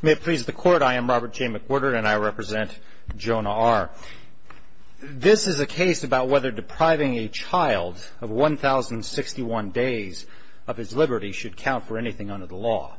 May it please the Court, I am Robert J. McWhirter, and I represent Jonah R. This is a case about whether depriving a child of 1,061 days of his liberty should count for anything under the law.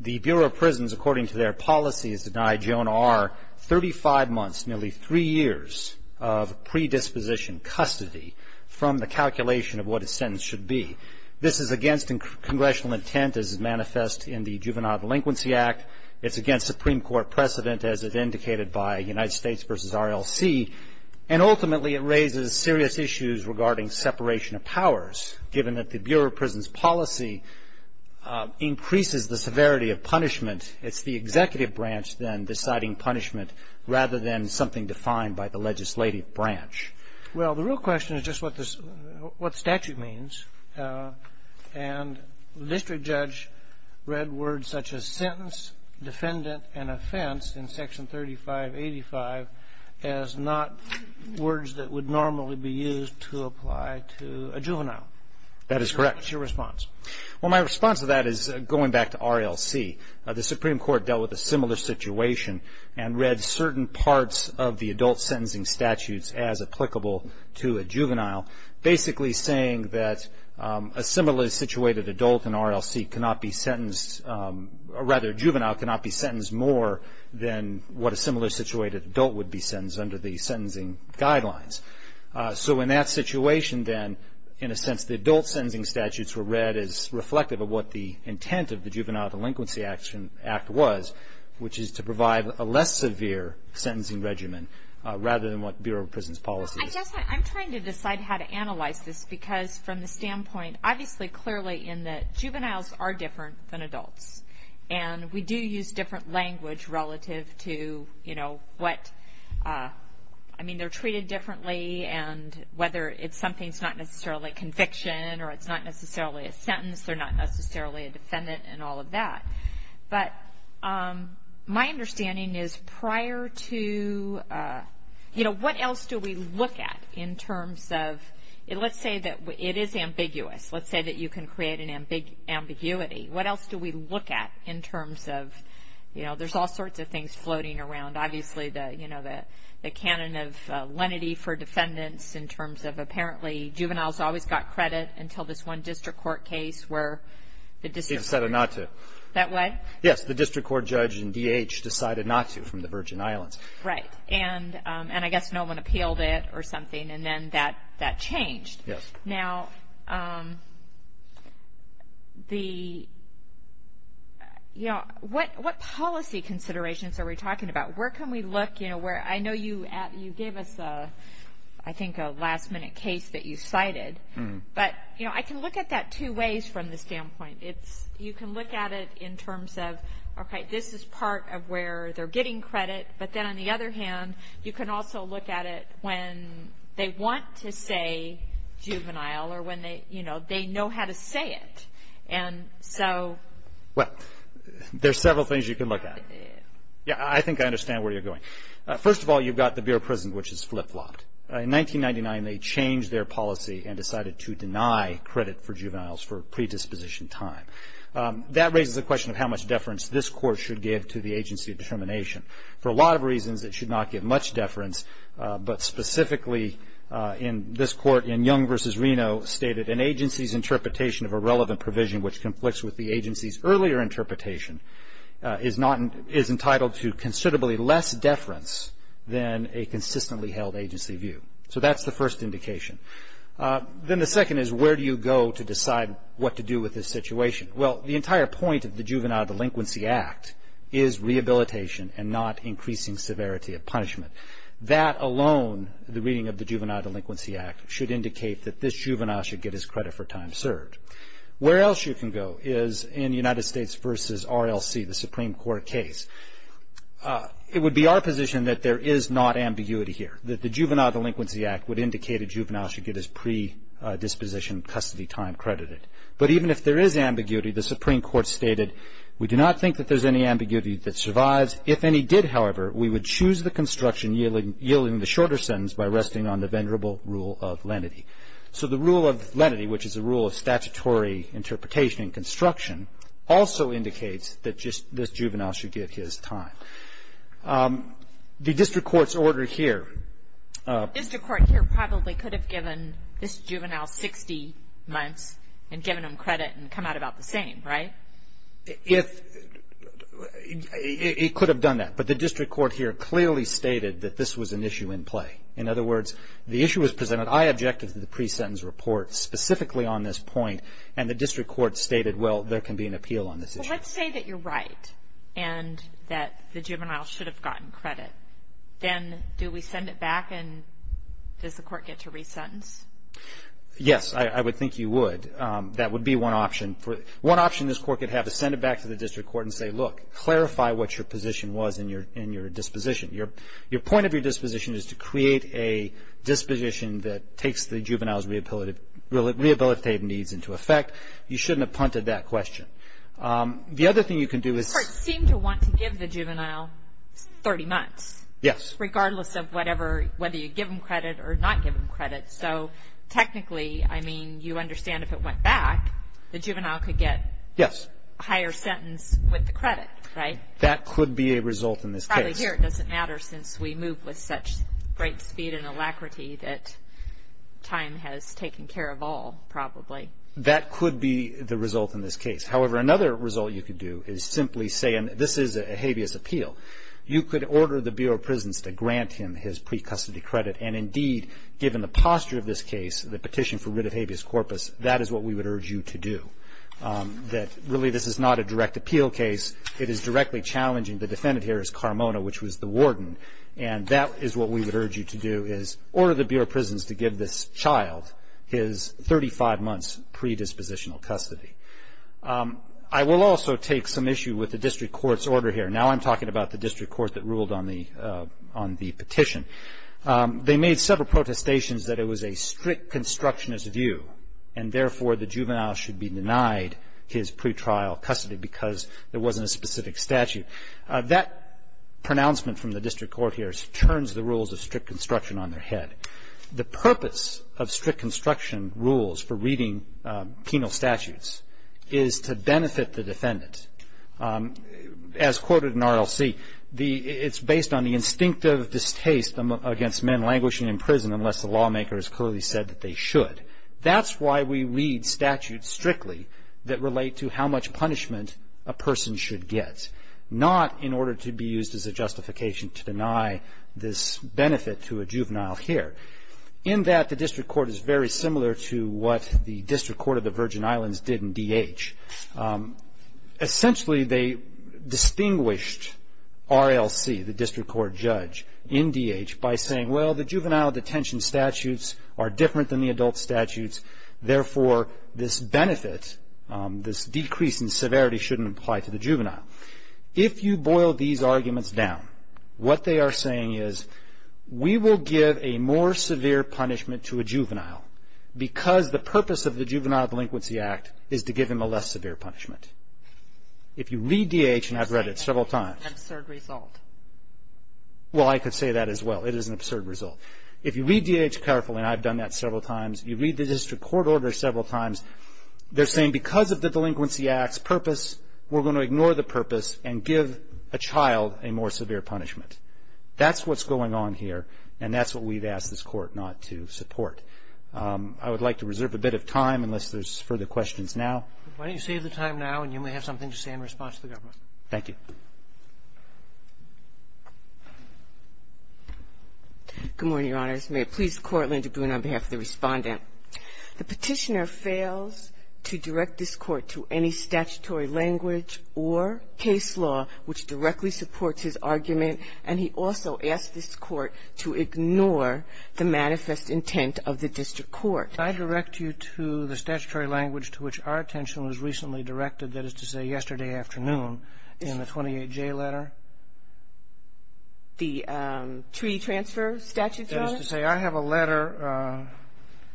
The Bureau of Prisons, according to their policy, has denied Jonah R. 35 months, nearly three years of predisposition custody from the calculation of what his sentence should be. This is against congressional intent, as is manifest in the Juvenile Delinquency Act. It's against Supreme Court precedent, as is indicated by United States v. RLC. And ultimately, it raises serious issues regarding separation of powers, given that the Bureau of Prisons policy increases the severity of punishment. And it's the executive branch, then, deciding punishment, rather than something defined by the legislative branch. Well, the real question is just what statute means. And the district judge read words such as sentence, defendant, and offense in Section 3585 as not words that would normally be used to apply to a juvenile. That is correct. What's your response? Well, my response to that is going back to RLC. The Supreme Court dealt with a similar situation and read certain parts of the adult sentencing statutes as applicable to a juvenile, basically saying that a similarly situated adult in RLC cannot be sentenced, or rather, a juvenile cannot be sentenced more than what a similarly situated adult would be sentenced under the sentencing guidelines. So in that situation, then, in a sense, the adult sentencing statutes were read as reflective of what the intent of the Juvenile Delinquency Act was, which is to provide a less severe sentencing regimen, rather than what Bureau of Prisons policy is. I'm trying to decide how to analyze this, because from the standpoint, obviously, clearly in that juveniles are different than adults. And we do use different language relative to, you know, what, I mean, they're treated differently, and whether it's something that's not necessarily a conviction, or it's not necessarily a defendant, and all of that. But my understanding is prior to, you know, what else do we look at in terms of, let's say that it is ambiguous, let's say that you can create an ambiguity, what else do we look at in terms of, you know, there's all sorts of things floating around. Obviously, the, you know, the canon of lenity for defendants in terms of apparently juveniles always got credit until this one district court case where the district court. They decided not to. That what? Yes, the district court judge in DH decided not to from the Virgin Islands. Right. And I guess no one appealed it or something, and then that changed. Now the, you know, what policy considerations are we talking about? Where can we look, you know, where, I know you gave us a, I think a last minute case that you cited, but, you know, I can look at that two ways from the standpoint. You can look at it in terms of, okay, this is part of where they're getting credit, but then on the other hand, you can also look at it when they want to say juvenile, or when they, you know, they know how to say it. And so. Well, there's several things you can look at. Yeah, I think I understand where you're going. First of all, you've got the Bureau of Prisons, which is flip-flopped. In 1999, they changed their policy and decided to deny credit for juveniles for predisposition time. That raises the question of how much deference this court should give to the agency of determination. For a lot of reasons, it should not give much deference, but specifically in this court in Young v. Reno stated, an agency's interpretation of a relevant provision which conflicts with the agency's earlier interpretation is entitled to considerably less deference than a consistently held agency view. So that's the first indication. Then the second is where do you go to decide what to do with this situation? Well, the entire point of the Juvenile Delinquency Act is rehabilitation and not increasing severity of punishment. That alone, the reading of the Juvenile Delinquency Act, should indicate that this juvenile should get his credit for time served. Where else you can go is in United States v. RLC, the Supreme Court case. It would be our position that there is not ambiguity here, that the Juvenile Delinquency Act would indicate a juvenile should get his predisposition custody time credited. But even if there is ambiguity, the Supreme Court stated, we do not think that there's any ambiguity that survives. If any did, however, we would choose the construction yielding the shorter sentence by resting on the venerable rule of lenity. So the rule of lenity, which is a rule of statutory interpretation and construction, also indicates that this juvenile should get his time. The district court's order here. The district court here probably could have given this juvenile 60 months and given him credit and come out about the same, right? It could have done that. But the district court here clearly stated that this was an issue in play. In other words, the issue was presented, I objected to the pre-sentence report specifically on this point. And the district court stated, well, there can be an appeal on this issue. Well, let's say that you're right and that the juvenile should have gotten credit. Then do we send it back and does the court get to re-sentence? Yes, I would think you would. That would be one option. One option this court could have is send it back to the district court and say, look, clarify what your position was in your disposition. Your point of your disposition is to create a disposition that takes the juvenile's rehabilitative needs into effect. You shouldn't have punted that question. The other thing you can do is... The court seemed to want to give the juvenile 30 months. Yes. Regardless of whatever, whether you give him credit or not give him credit. So technically, I mean, you understand if it went back, the juvenile could get a higher sentence with the credit, right? That could be a result in this case. But really here, it doesn't matter since we move with such great speed and alacrity that time has taken care of all probably. That could be the result in this case. However, another result you could do is simply say, and this is a habeas appeal, you could order the Bureau of Prisons to grant him his pre-custody credit, and indeed, given the posture of this case, the petition for writ of habeas corpus, that is what we would urge you to do. That really this is not a direct appeal case. It is directly challenging. The defendant here is Carmona, which was the warden, and that is what we would urge you to do is order the Bureau of Prisons to give this child his 35 months predispositional custody. I will also take some issue with the district court's order here. Now I'm talking about the district court that ruled on the petition. They made several protestations that it was a strict constructionist view, and therefore, the juvenile should be denied his pretrial custody because there wasn't a specific statute. That pronouncement from the district court here turns the rules of strict construction on their head. The purpose of strict construction rules for reading penal statutes is to benefit the defendant. As quoted in RLC, it's based on the instinctive distaste against men languishing in prison unless the lawmaker has clearly said that they should. That's why we read statutes strictly that relate to how much punishment a person should get, not in order to be used as a justification to deny this benefit to a juvenile here. In that, the district court is very similar to what the district court of the Virgin Islands did in DH. Essentially, they distinguished RLC, the district court judge, in DH by saying, well, the juvenile detention statutes are different than the adult statutes, therefore, this benefit, this decrease in severity, shouldn't apply to the juvenile. If you boil these arguments down, what they are saying is, we will give a more severe punishment to a juvenile because the purpose of the Juvenile Delinquency Act is to give him a less severe punishment. If you read DH, and I've read it several times, well, I could say that as well. It is an absurd result. If you read DH carefully, and I've done that several times, you read the district court order several times, they're saying because of the Delinquency Act's purpose, we're going to ignore the purpose and give a child a more severe punishment. That's what's going on here, and that's what we've asked this court not to support. I would like to reserve a bit of time unless there's further questions now. Roberts. Why don't you save the time now, and you may have something to say in response to the government. Thank you. Good morning, Your Honors. May it please the Court, Linda Gruner on behalf of the Respondent. The Petitioner fails to direct this Court to any statutory language or case law which directly supports his argument, and he also asks this Court to ignore the manifest intent of the district court. Can I direct you to the statutory language to which our attention was recently directed, that is to say, yesterday afternoon in the 28J letter? The Treaty Transfer Statute, Your Honor? That is to say, I have a letter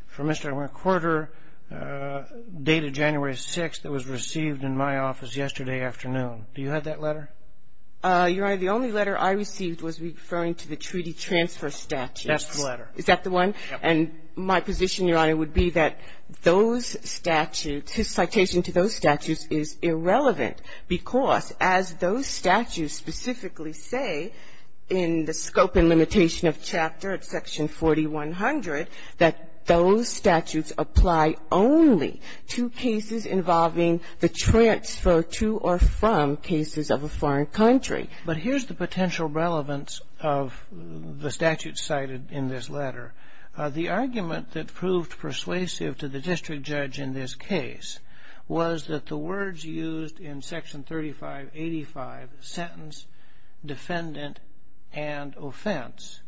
from Mr. McWhorter dated January 6th that was received in my office yesterday afternoon. Do you have that letter? Your Honor, the only letter I received was referring to the Treaty Transfer Statute. That's the letter. Is that the one? Yes. And my position, Your Honor, would be that those statutes, his citation to those statutes is irrelevant, because as those statutes specifically say in the scope and limitation of Chapter at Section 4100, that those statutes apply only to cases involving the transfer to or from cases of a foreign country. But here's the potential relevance of the statute cited in this letter. The argument that proved persuasive to the district judge in this case was that the words used in Section 3585, sentence, defendant, and offense,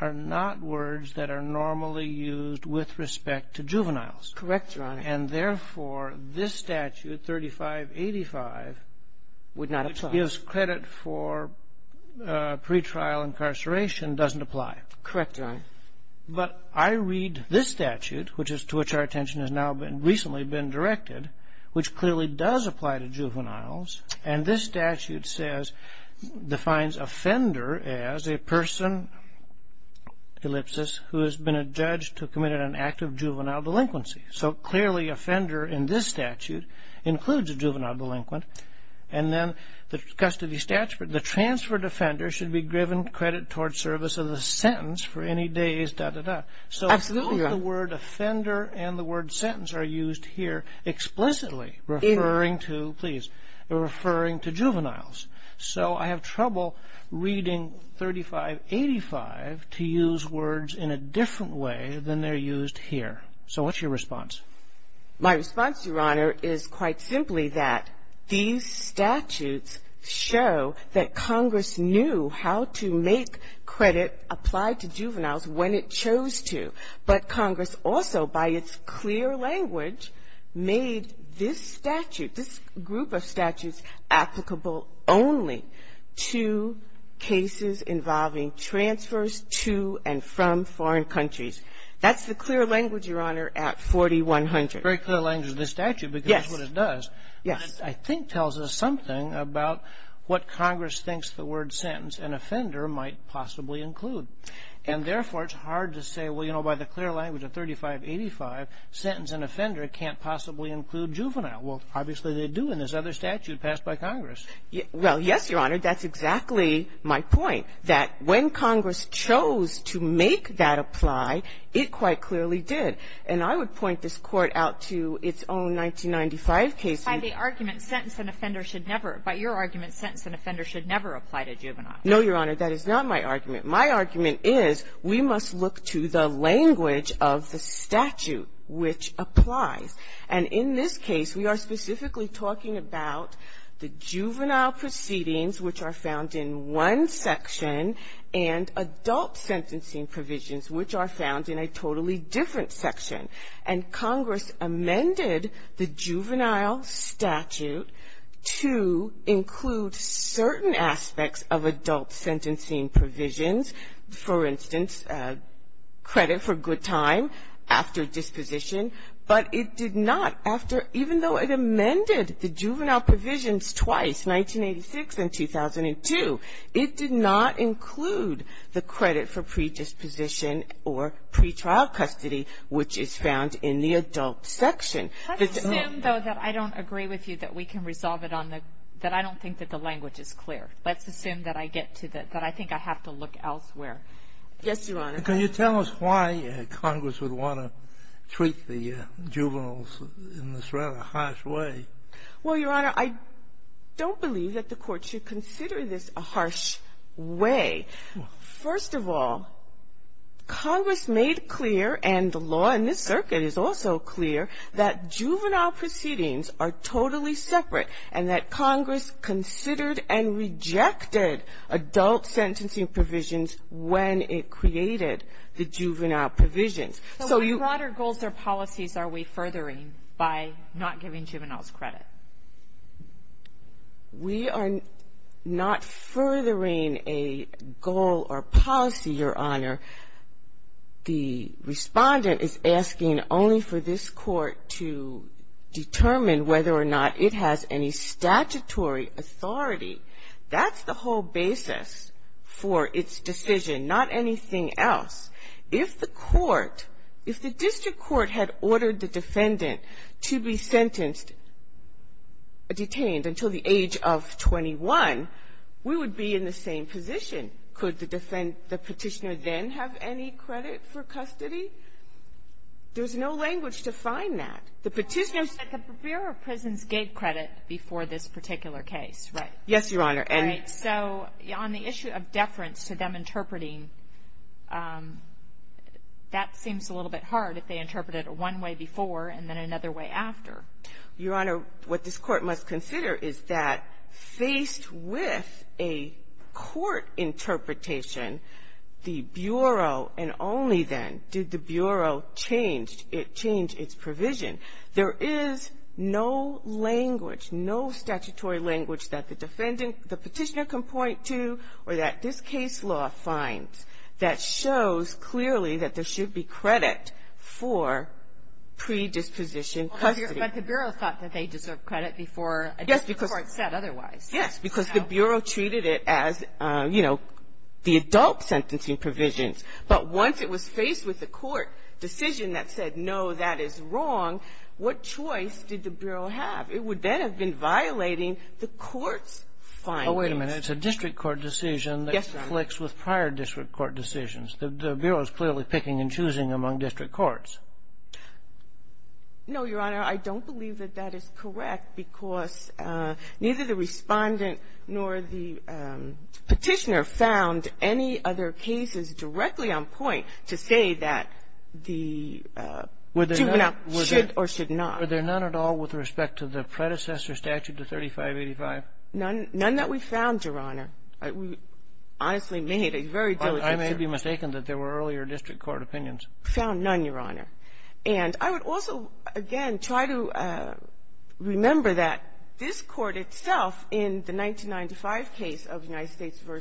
are not words that are normally used with respect to juveniles. Correct, Your Honor. And therefore, this statute, 3585, which gives credit for pretrial incarceration doesn't apply. Correct, Your Honor. But I read this statute, which is to which our attention has now recently been directed, which clearly does apply to juveniles. And this statute says, defines offender as a person, ellipsis, who has been a judge to commit an act of juvenile delinquency. So clearly, offender in this statute includes a juvenile delinquent. And then the custody statute, the transferred offender should be given credit toward service of the sentence for any days, dot, dot, dot. So both the word offender and the word sentence are used here explicitly, referring to, please, referring to juveniles. So I have trouble reading 3585 to use words in a different way than they're used here. So what's your response? My response, Your Honor, is quite simply that these statutes show that Congress knew how to make credit apply to juveniles when it chose to. But Congress also, by its clear language, made this statute, this group of statutes, applicable only to cases involving transfers to and from foreign countries. That's the clear language, Your Honor, at 4100. Very clear language in this statute because that's what it does. Yes. And I think tells us something about what Congress thinks the word sentence and offender might possibly include. And therefore, it's hard to say, well, you know, by the clear language of 3585, sentence and offender can't possibly include juvenile. Well, obviously, they do in this other statute passed by Congress. Well, yes, Your Honor. That's exactly my point, that when Congress chose to make that apply, it quite clearly did. And I would point this Court out to its own 1995 case. By the argument sentence and offender should never – by your argument, sentence and offender should never apply to juveniles. No, Your Honor. That is not my argument. My argument is we must look to the language of the statute which applies. And in this case, we are specifically talking about the juvenile proceedings, which are found in one section, and adult sentencing provisions, which are found in a totally different section. And Congress amended the juvenile statute to include certain aspects of adult sentencing provisions, for instance, credit for good time after disposition, but it did not after – even though it amended the juvenile provisions twice, 1986 and 2002, it did not include the credit for predisposition or pretrial custody, which is found in the adult section. Let's assume, though, that I don't agree with you that we can resolve it on the – that I don't think that the language is clear. Let's assume that I get to the – that I think I have to look elsewhere. Yes, Your Honor. Can you tell us why Congress would want to treat the juveniles in this rather harsh way? Well, Your Honor, I don't believe that the Court should consider this a harsh way. First of all, Congress made clear, and the law in this circuit is also clear, that juvenile proceedings are totally separate, and that Congress considered and rejected adult sentencing provisions when it created the juvenile provisions. So you – What other goals or policies are we furthering by not giving juveniles credit? We are not furthering a goal or policy, Your Honor. The Respondent is asking only for this Court to determine whether or not it has any statutory authority. That's the whole basis for its decision, not anything else. If the Court – if the district court had ordered the defendant to be sentenced – detained until the age of 21, we would be in the same position. Could the defend – the Petitioner then have any credit for custody? There's no language to find that. The Petitioner's – But the Bureau of Prisons gave credit before this particular case, right? Yes, Your Honor. Right. So on the issue of deference to them interpreting, that seems a little bit hard, if they interpret it one way before and then another way after. Your Honor, what this Court must consider is that, faced with a court interpretation, the Bureau, and only then did the Bureau change its provision. There is no language, no statutory language that the defendant – the Petitioner can point to or that this case law finds that shows clearly that there should be credit for predisposition custody. But the Bureau thought that they deserved credit before the Court said otherwise. Yes. Because the Bureau treated it as, you know, the adult sentencing provisions. But once it was faced with a court decision that said, no, that is wrong, what choice did the Bureau have? It would then have been violating the court's findings. Oh, wait a minute. It's a district court decision that conflicts with prior district court decisions. The Bureau is clearly picking and choosing among district courts. No, Your Honor. I don't believe that that is correct, because neither the Respondent nor the Petitioner found any other cases directly on point to say that the juvenile should or should not. Were there none at all with respect to the predecessor statute, the 3585? None. None that we found, Your Honor. We honestly made a very diligent search. I may be mistaken that there were earlier district court opinions. We found none, Your Honor. And I would also, again, try to remember that this Court itself, in the 1995 case of United States v.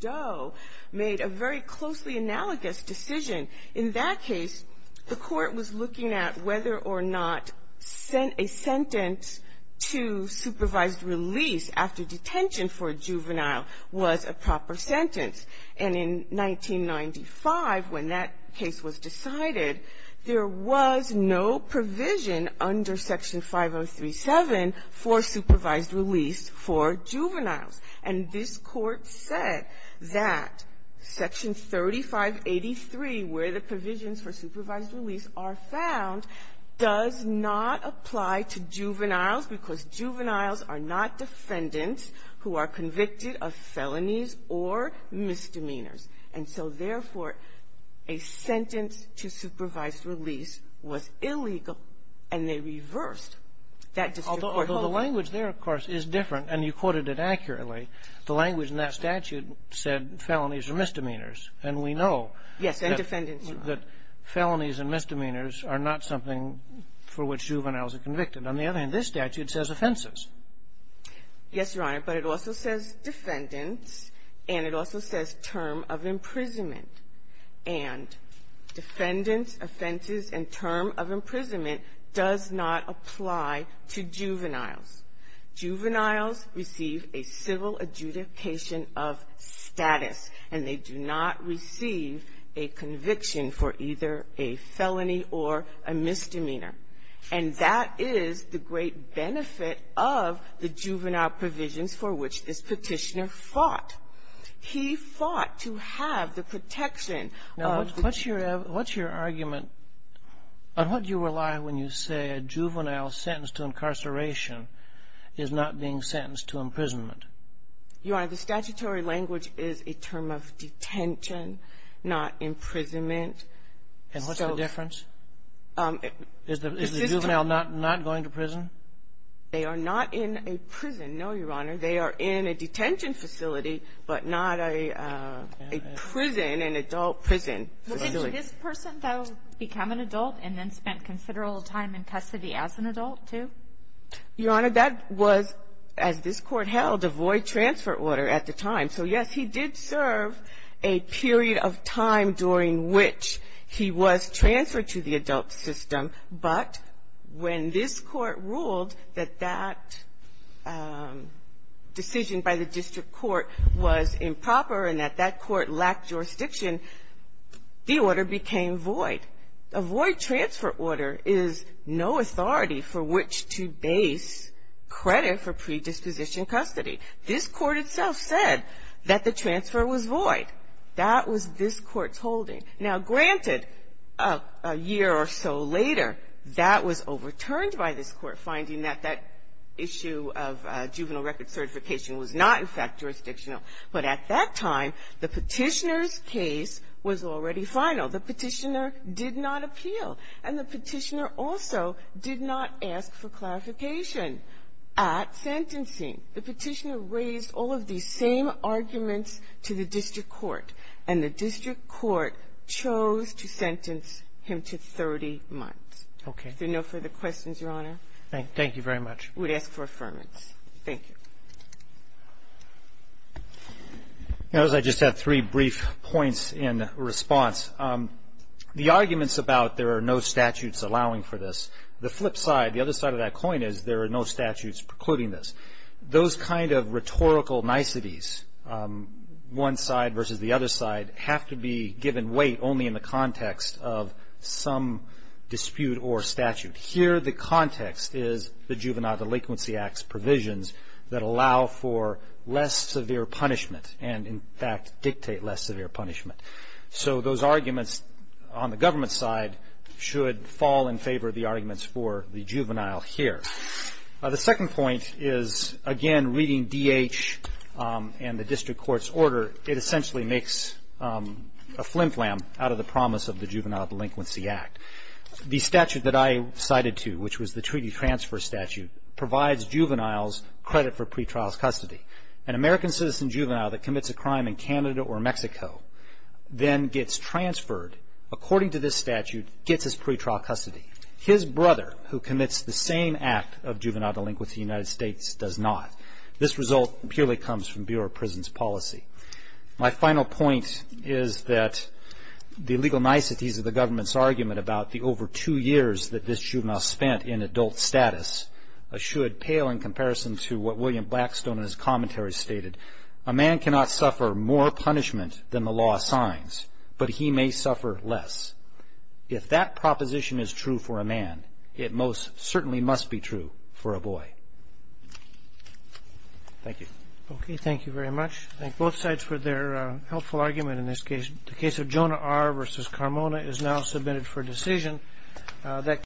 Doe, made a very closely analogous decision. In that case, the Court was looking at whether or not a sentence to supervised release after detention for a juvenile was a proper sentence. And in 1995, when that case was decided, there was no provision under Section 5037 for supervised release for juveniles. And this Court said that Section 3583, where the provisions for supervised release are found, does not apply to juveniles because juveniles are not defendants who are convicted of felonies or misdemeanors. And so, therefore, a sentence to supervised release was illegal, and they reversed that district court opinion. The language there, of course, is different, and you quoted it accurately. The language in that statute said felonies or misdemeanors, and we know that felonies and misdemeanors are not something for which juveniles are convicted. On the other hand, this statute says offenses. Yes, Your Honor. But it also says defendants, and it also says term of imprisonment. And defendants, offenses, and term of imprisonment does not apply to juveniles. Juveniles receive a civil adjudication of status, and they do not receive a conviction for either a felony or a misdemeanor. And that is the great benefit of the juvenile provisions for which this Petitioner fought. He fought to have the protection of the district court. Now, what's your argument? On what do you rely when you say a juvenile sentenced to incarceration is not being sentenced to imprisonment? Your Honor, the statutory language is a term of detention, not imprisonment. And what's the difference? Is the juvenile not going to prison? They are not in a prison, no, Your Honor. They are in a detention facility, but not a prison, an adult prison facility. Well, didn't this person, though, become an adult and then spent considerable time in custody as an adult, too? Your Honor, that was, as this Court held, a void transfer order at the time. So, yes, he did serve a period of time during which he was transferred to the adult facility, but because the decision by the district court was improper and that that court lacked jurisdiction, the order became void. A void transfer order is no authority for which to base credit for predisposition custody. This Court itself said that the transfer was void. That was this Court's holding. Now, granted, a year or so later, that was overturned by this Court, finding that that issue of juvenile record certification was not, in fact, jurisdictional. But at that time, the Petitioner's case was already final. The Petitioner did not appeal. And the Petitioner also did not ask for clarification at sentencing. The Petitioner raised all of these same arguments to the district court, and the district court chose to sentence him to 30 months. Okay. Is there no further questions, Your Honor? Thank you very much. We'd ask for affirmance. Thank you. As I just said, three brief points in response. The arguments about there are no statutes allowing for this, the flip side, the other side of that coin is there are no statutes precluding this. Those kind of rhetorical niceties, one side versus the other side, have to be given weight only in the context of some dispute or statute. Here, the context is the Juvenile Delinquency Act's provisions that allow for less severe punishment and, in fact, dictate less severe punishment. So those arguments on the government side should fall in favor of the arguments for the juvenile here. The second point is, again, reading D.H. and the district court's order, it essentially makes a flim-flam out of the promise of the Juvenile Delinquency Act. The statute that I cited to, which was the treaty transfer statute, provides juveniles credit for pretrial custody. An American citizen juvenile that commits a crime in Canada or Mexico then gets transferred, according to this statute, gets his pretrial custody. His brother, who commits the same act of juvenile delinquency in the United States, does not. This result purely comes from Bureau of Prisons policy. My final point is that the legal niceties of the government's argument about the over two years that this juvenile spent in adult status should pale in comparison to what William Blackstone in his commentary stated. A man cannot suffer more punishment than the law assigns, but he may suffer less. If that proposition is true for a man, it most certainly must be true for a boy. Thank you. Okay, thank you very much. I thank both sides for their helpful argument in this case. The case of Jonah R. v. Carmona is now submitted for decision.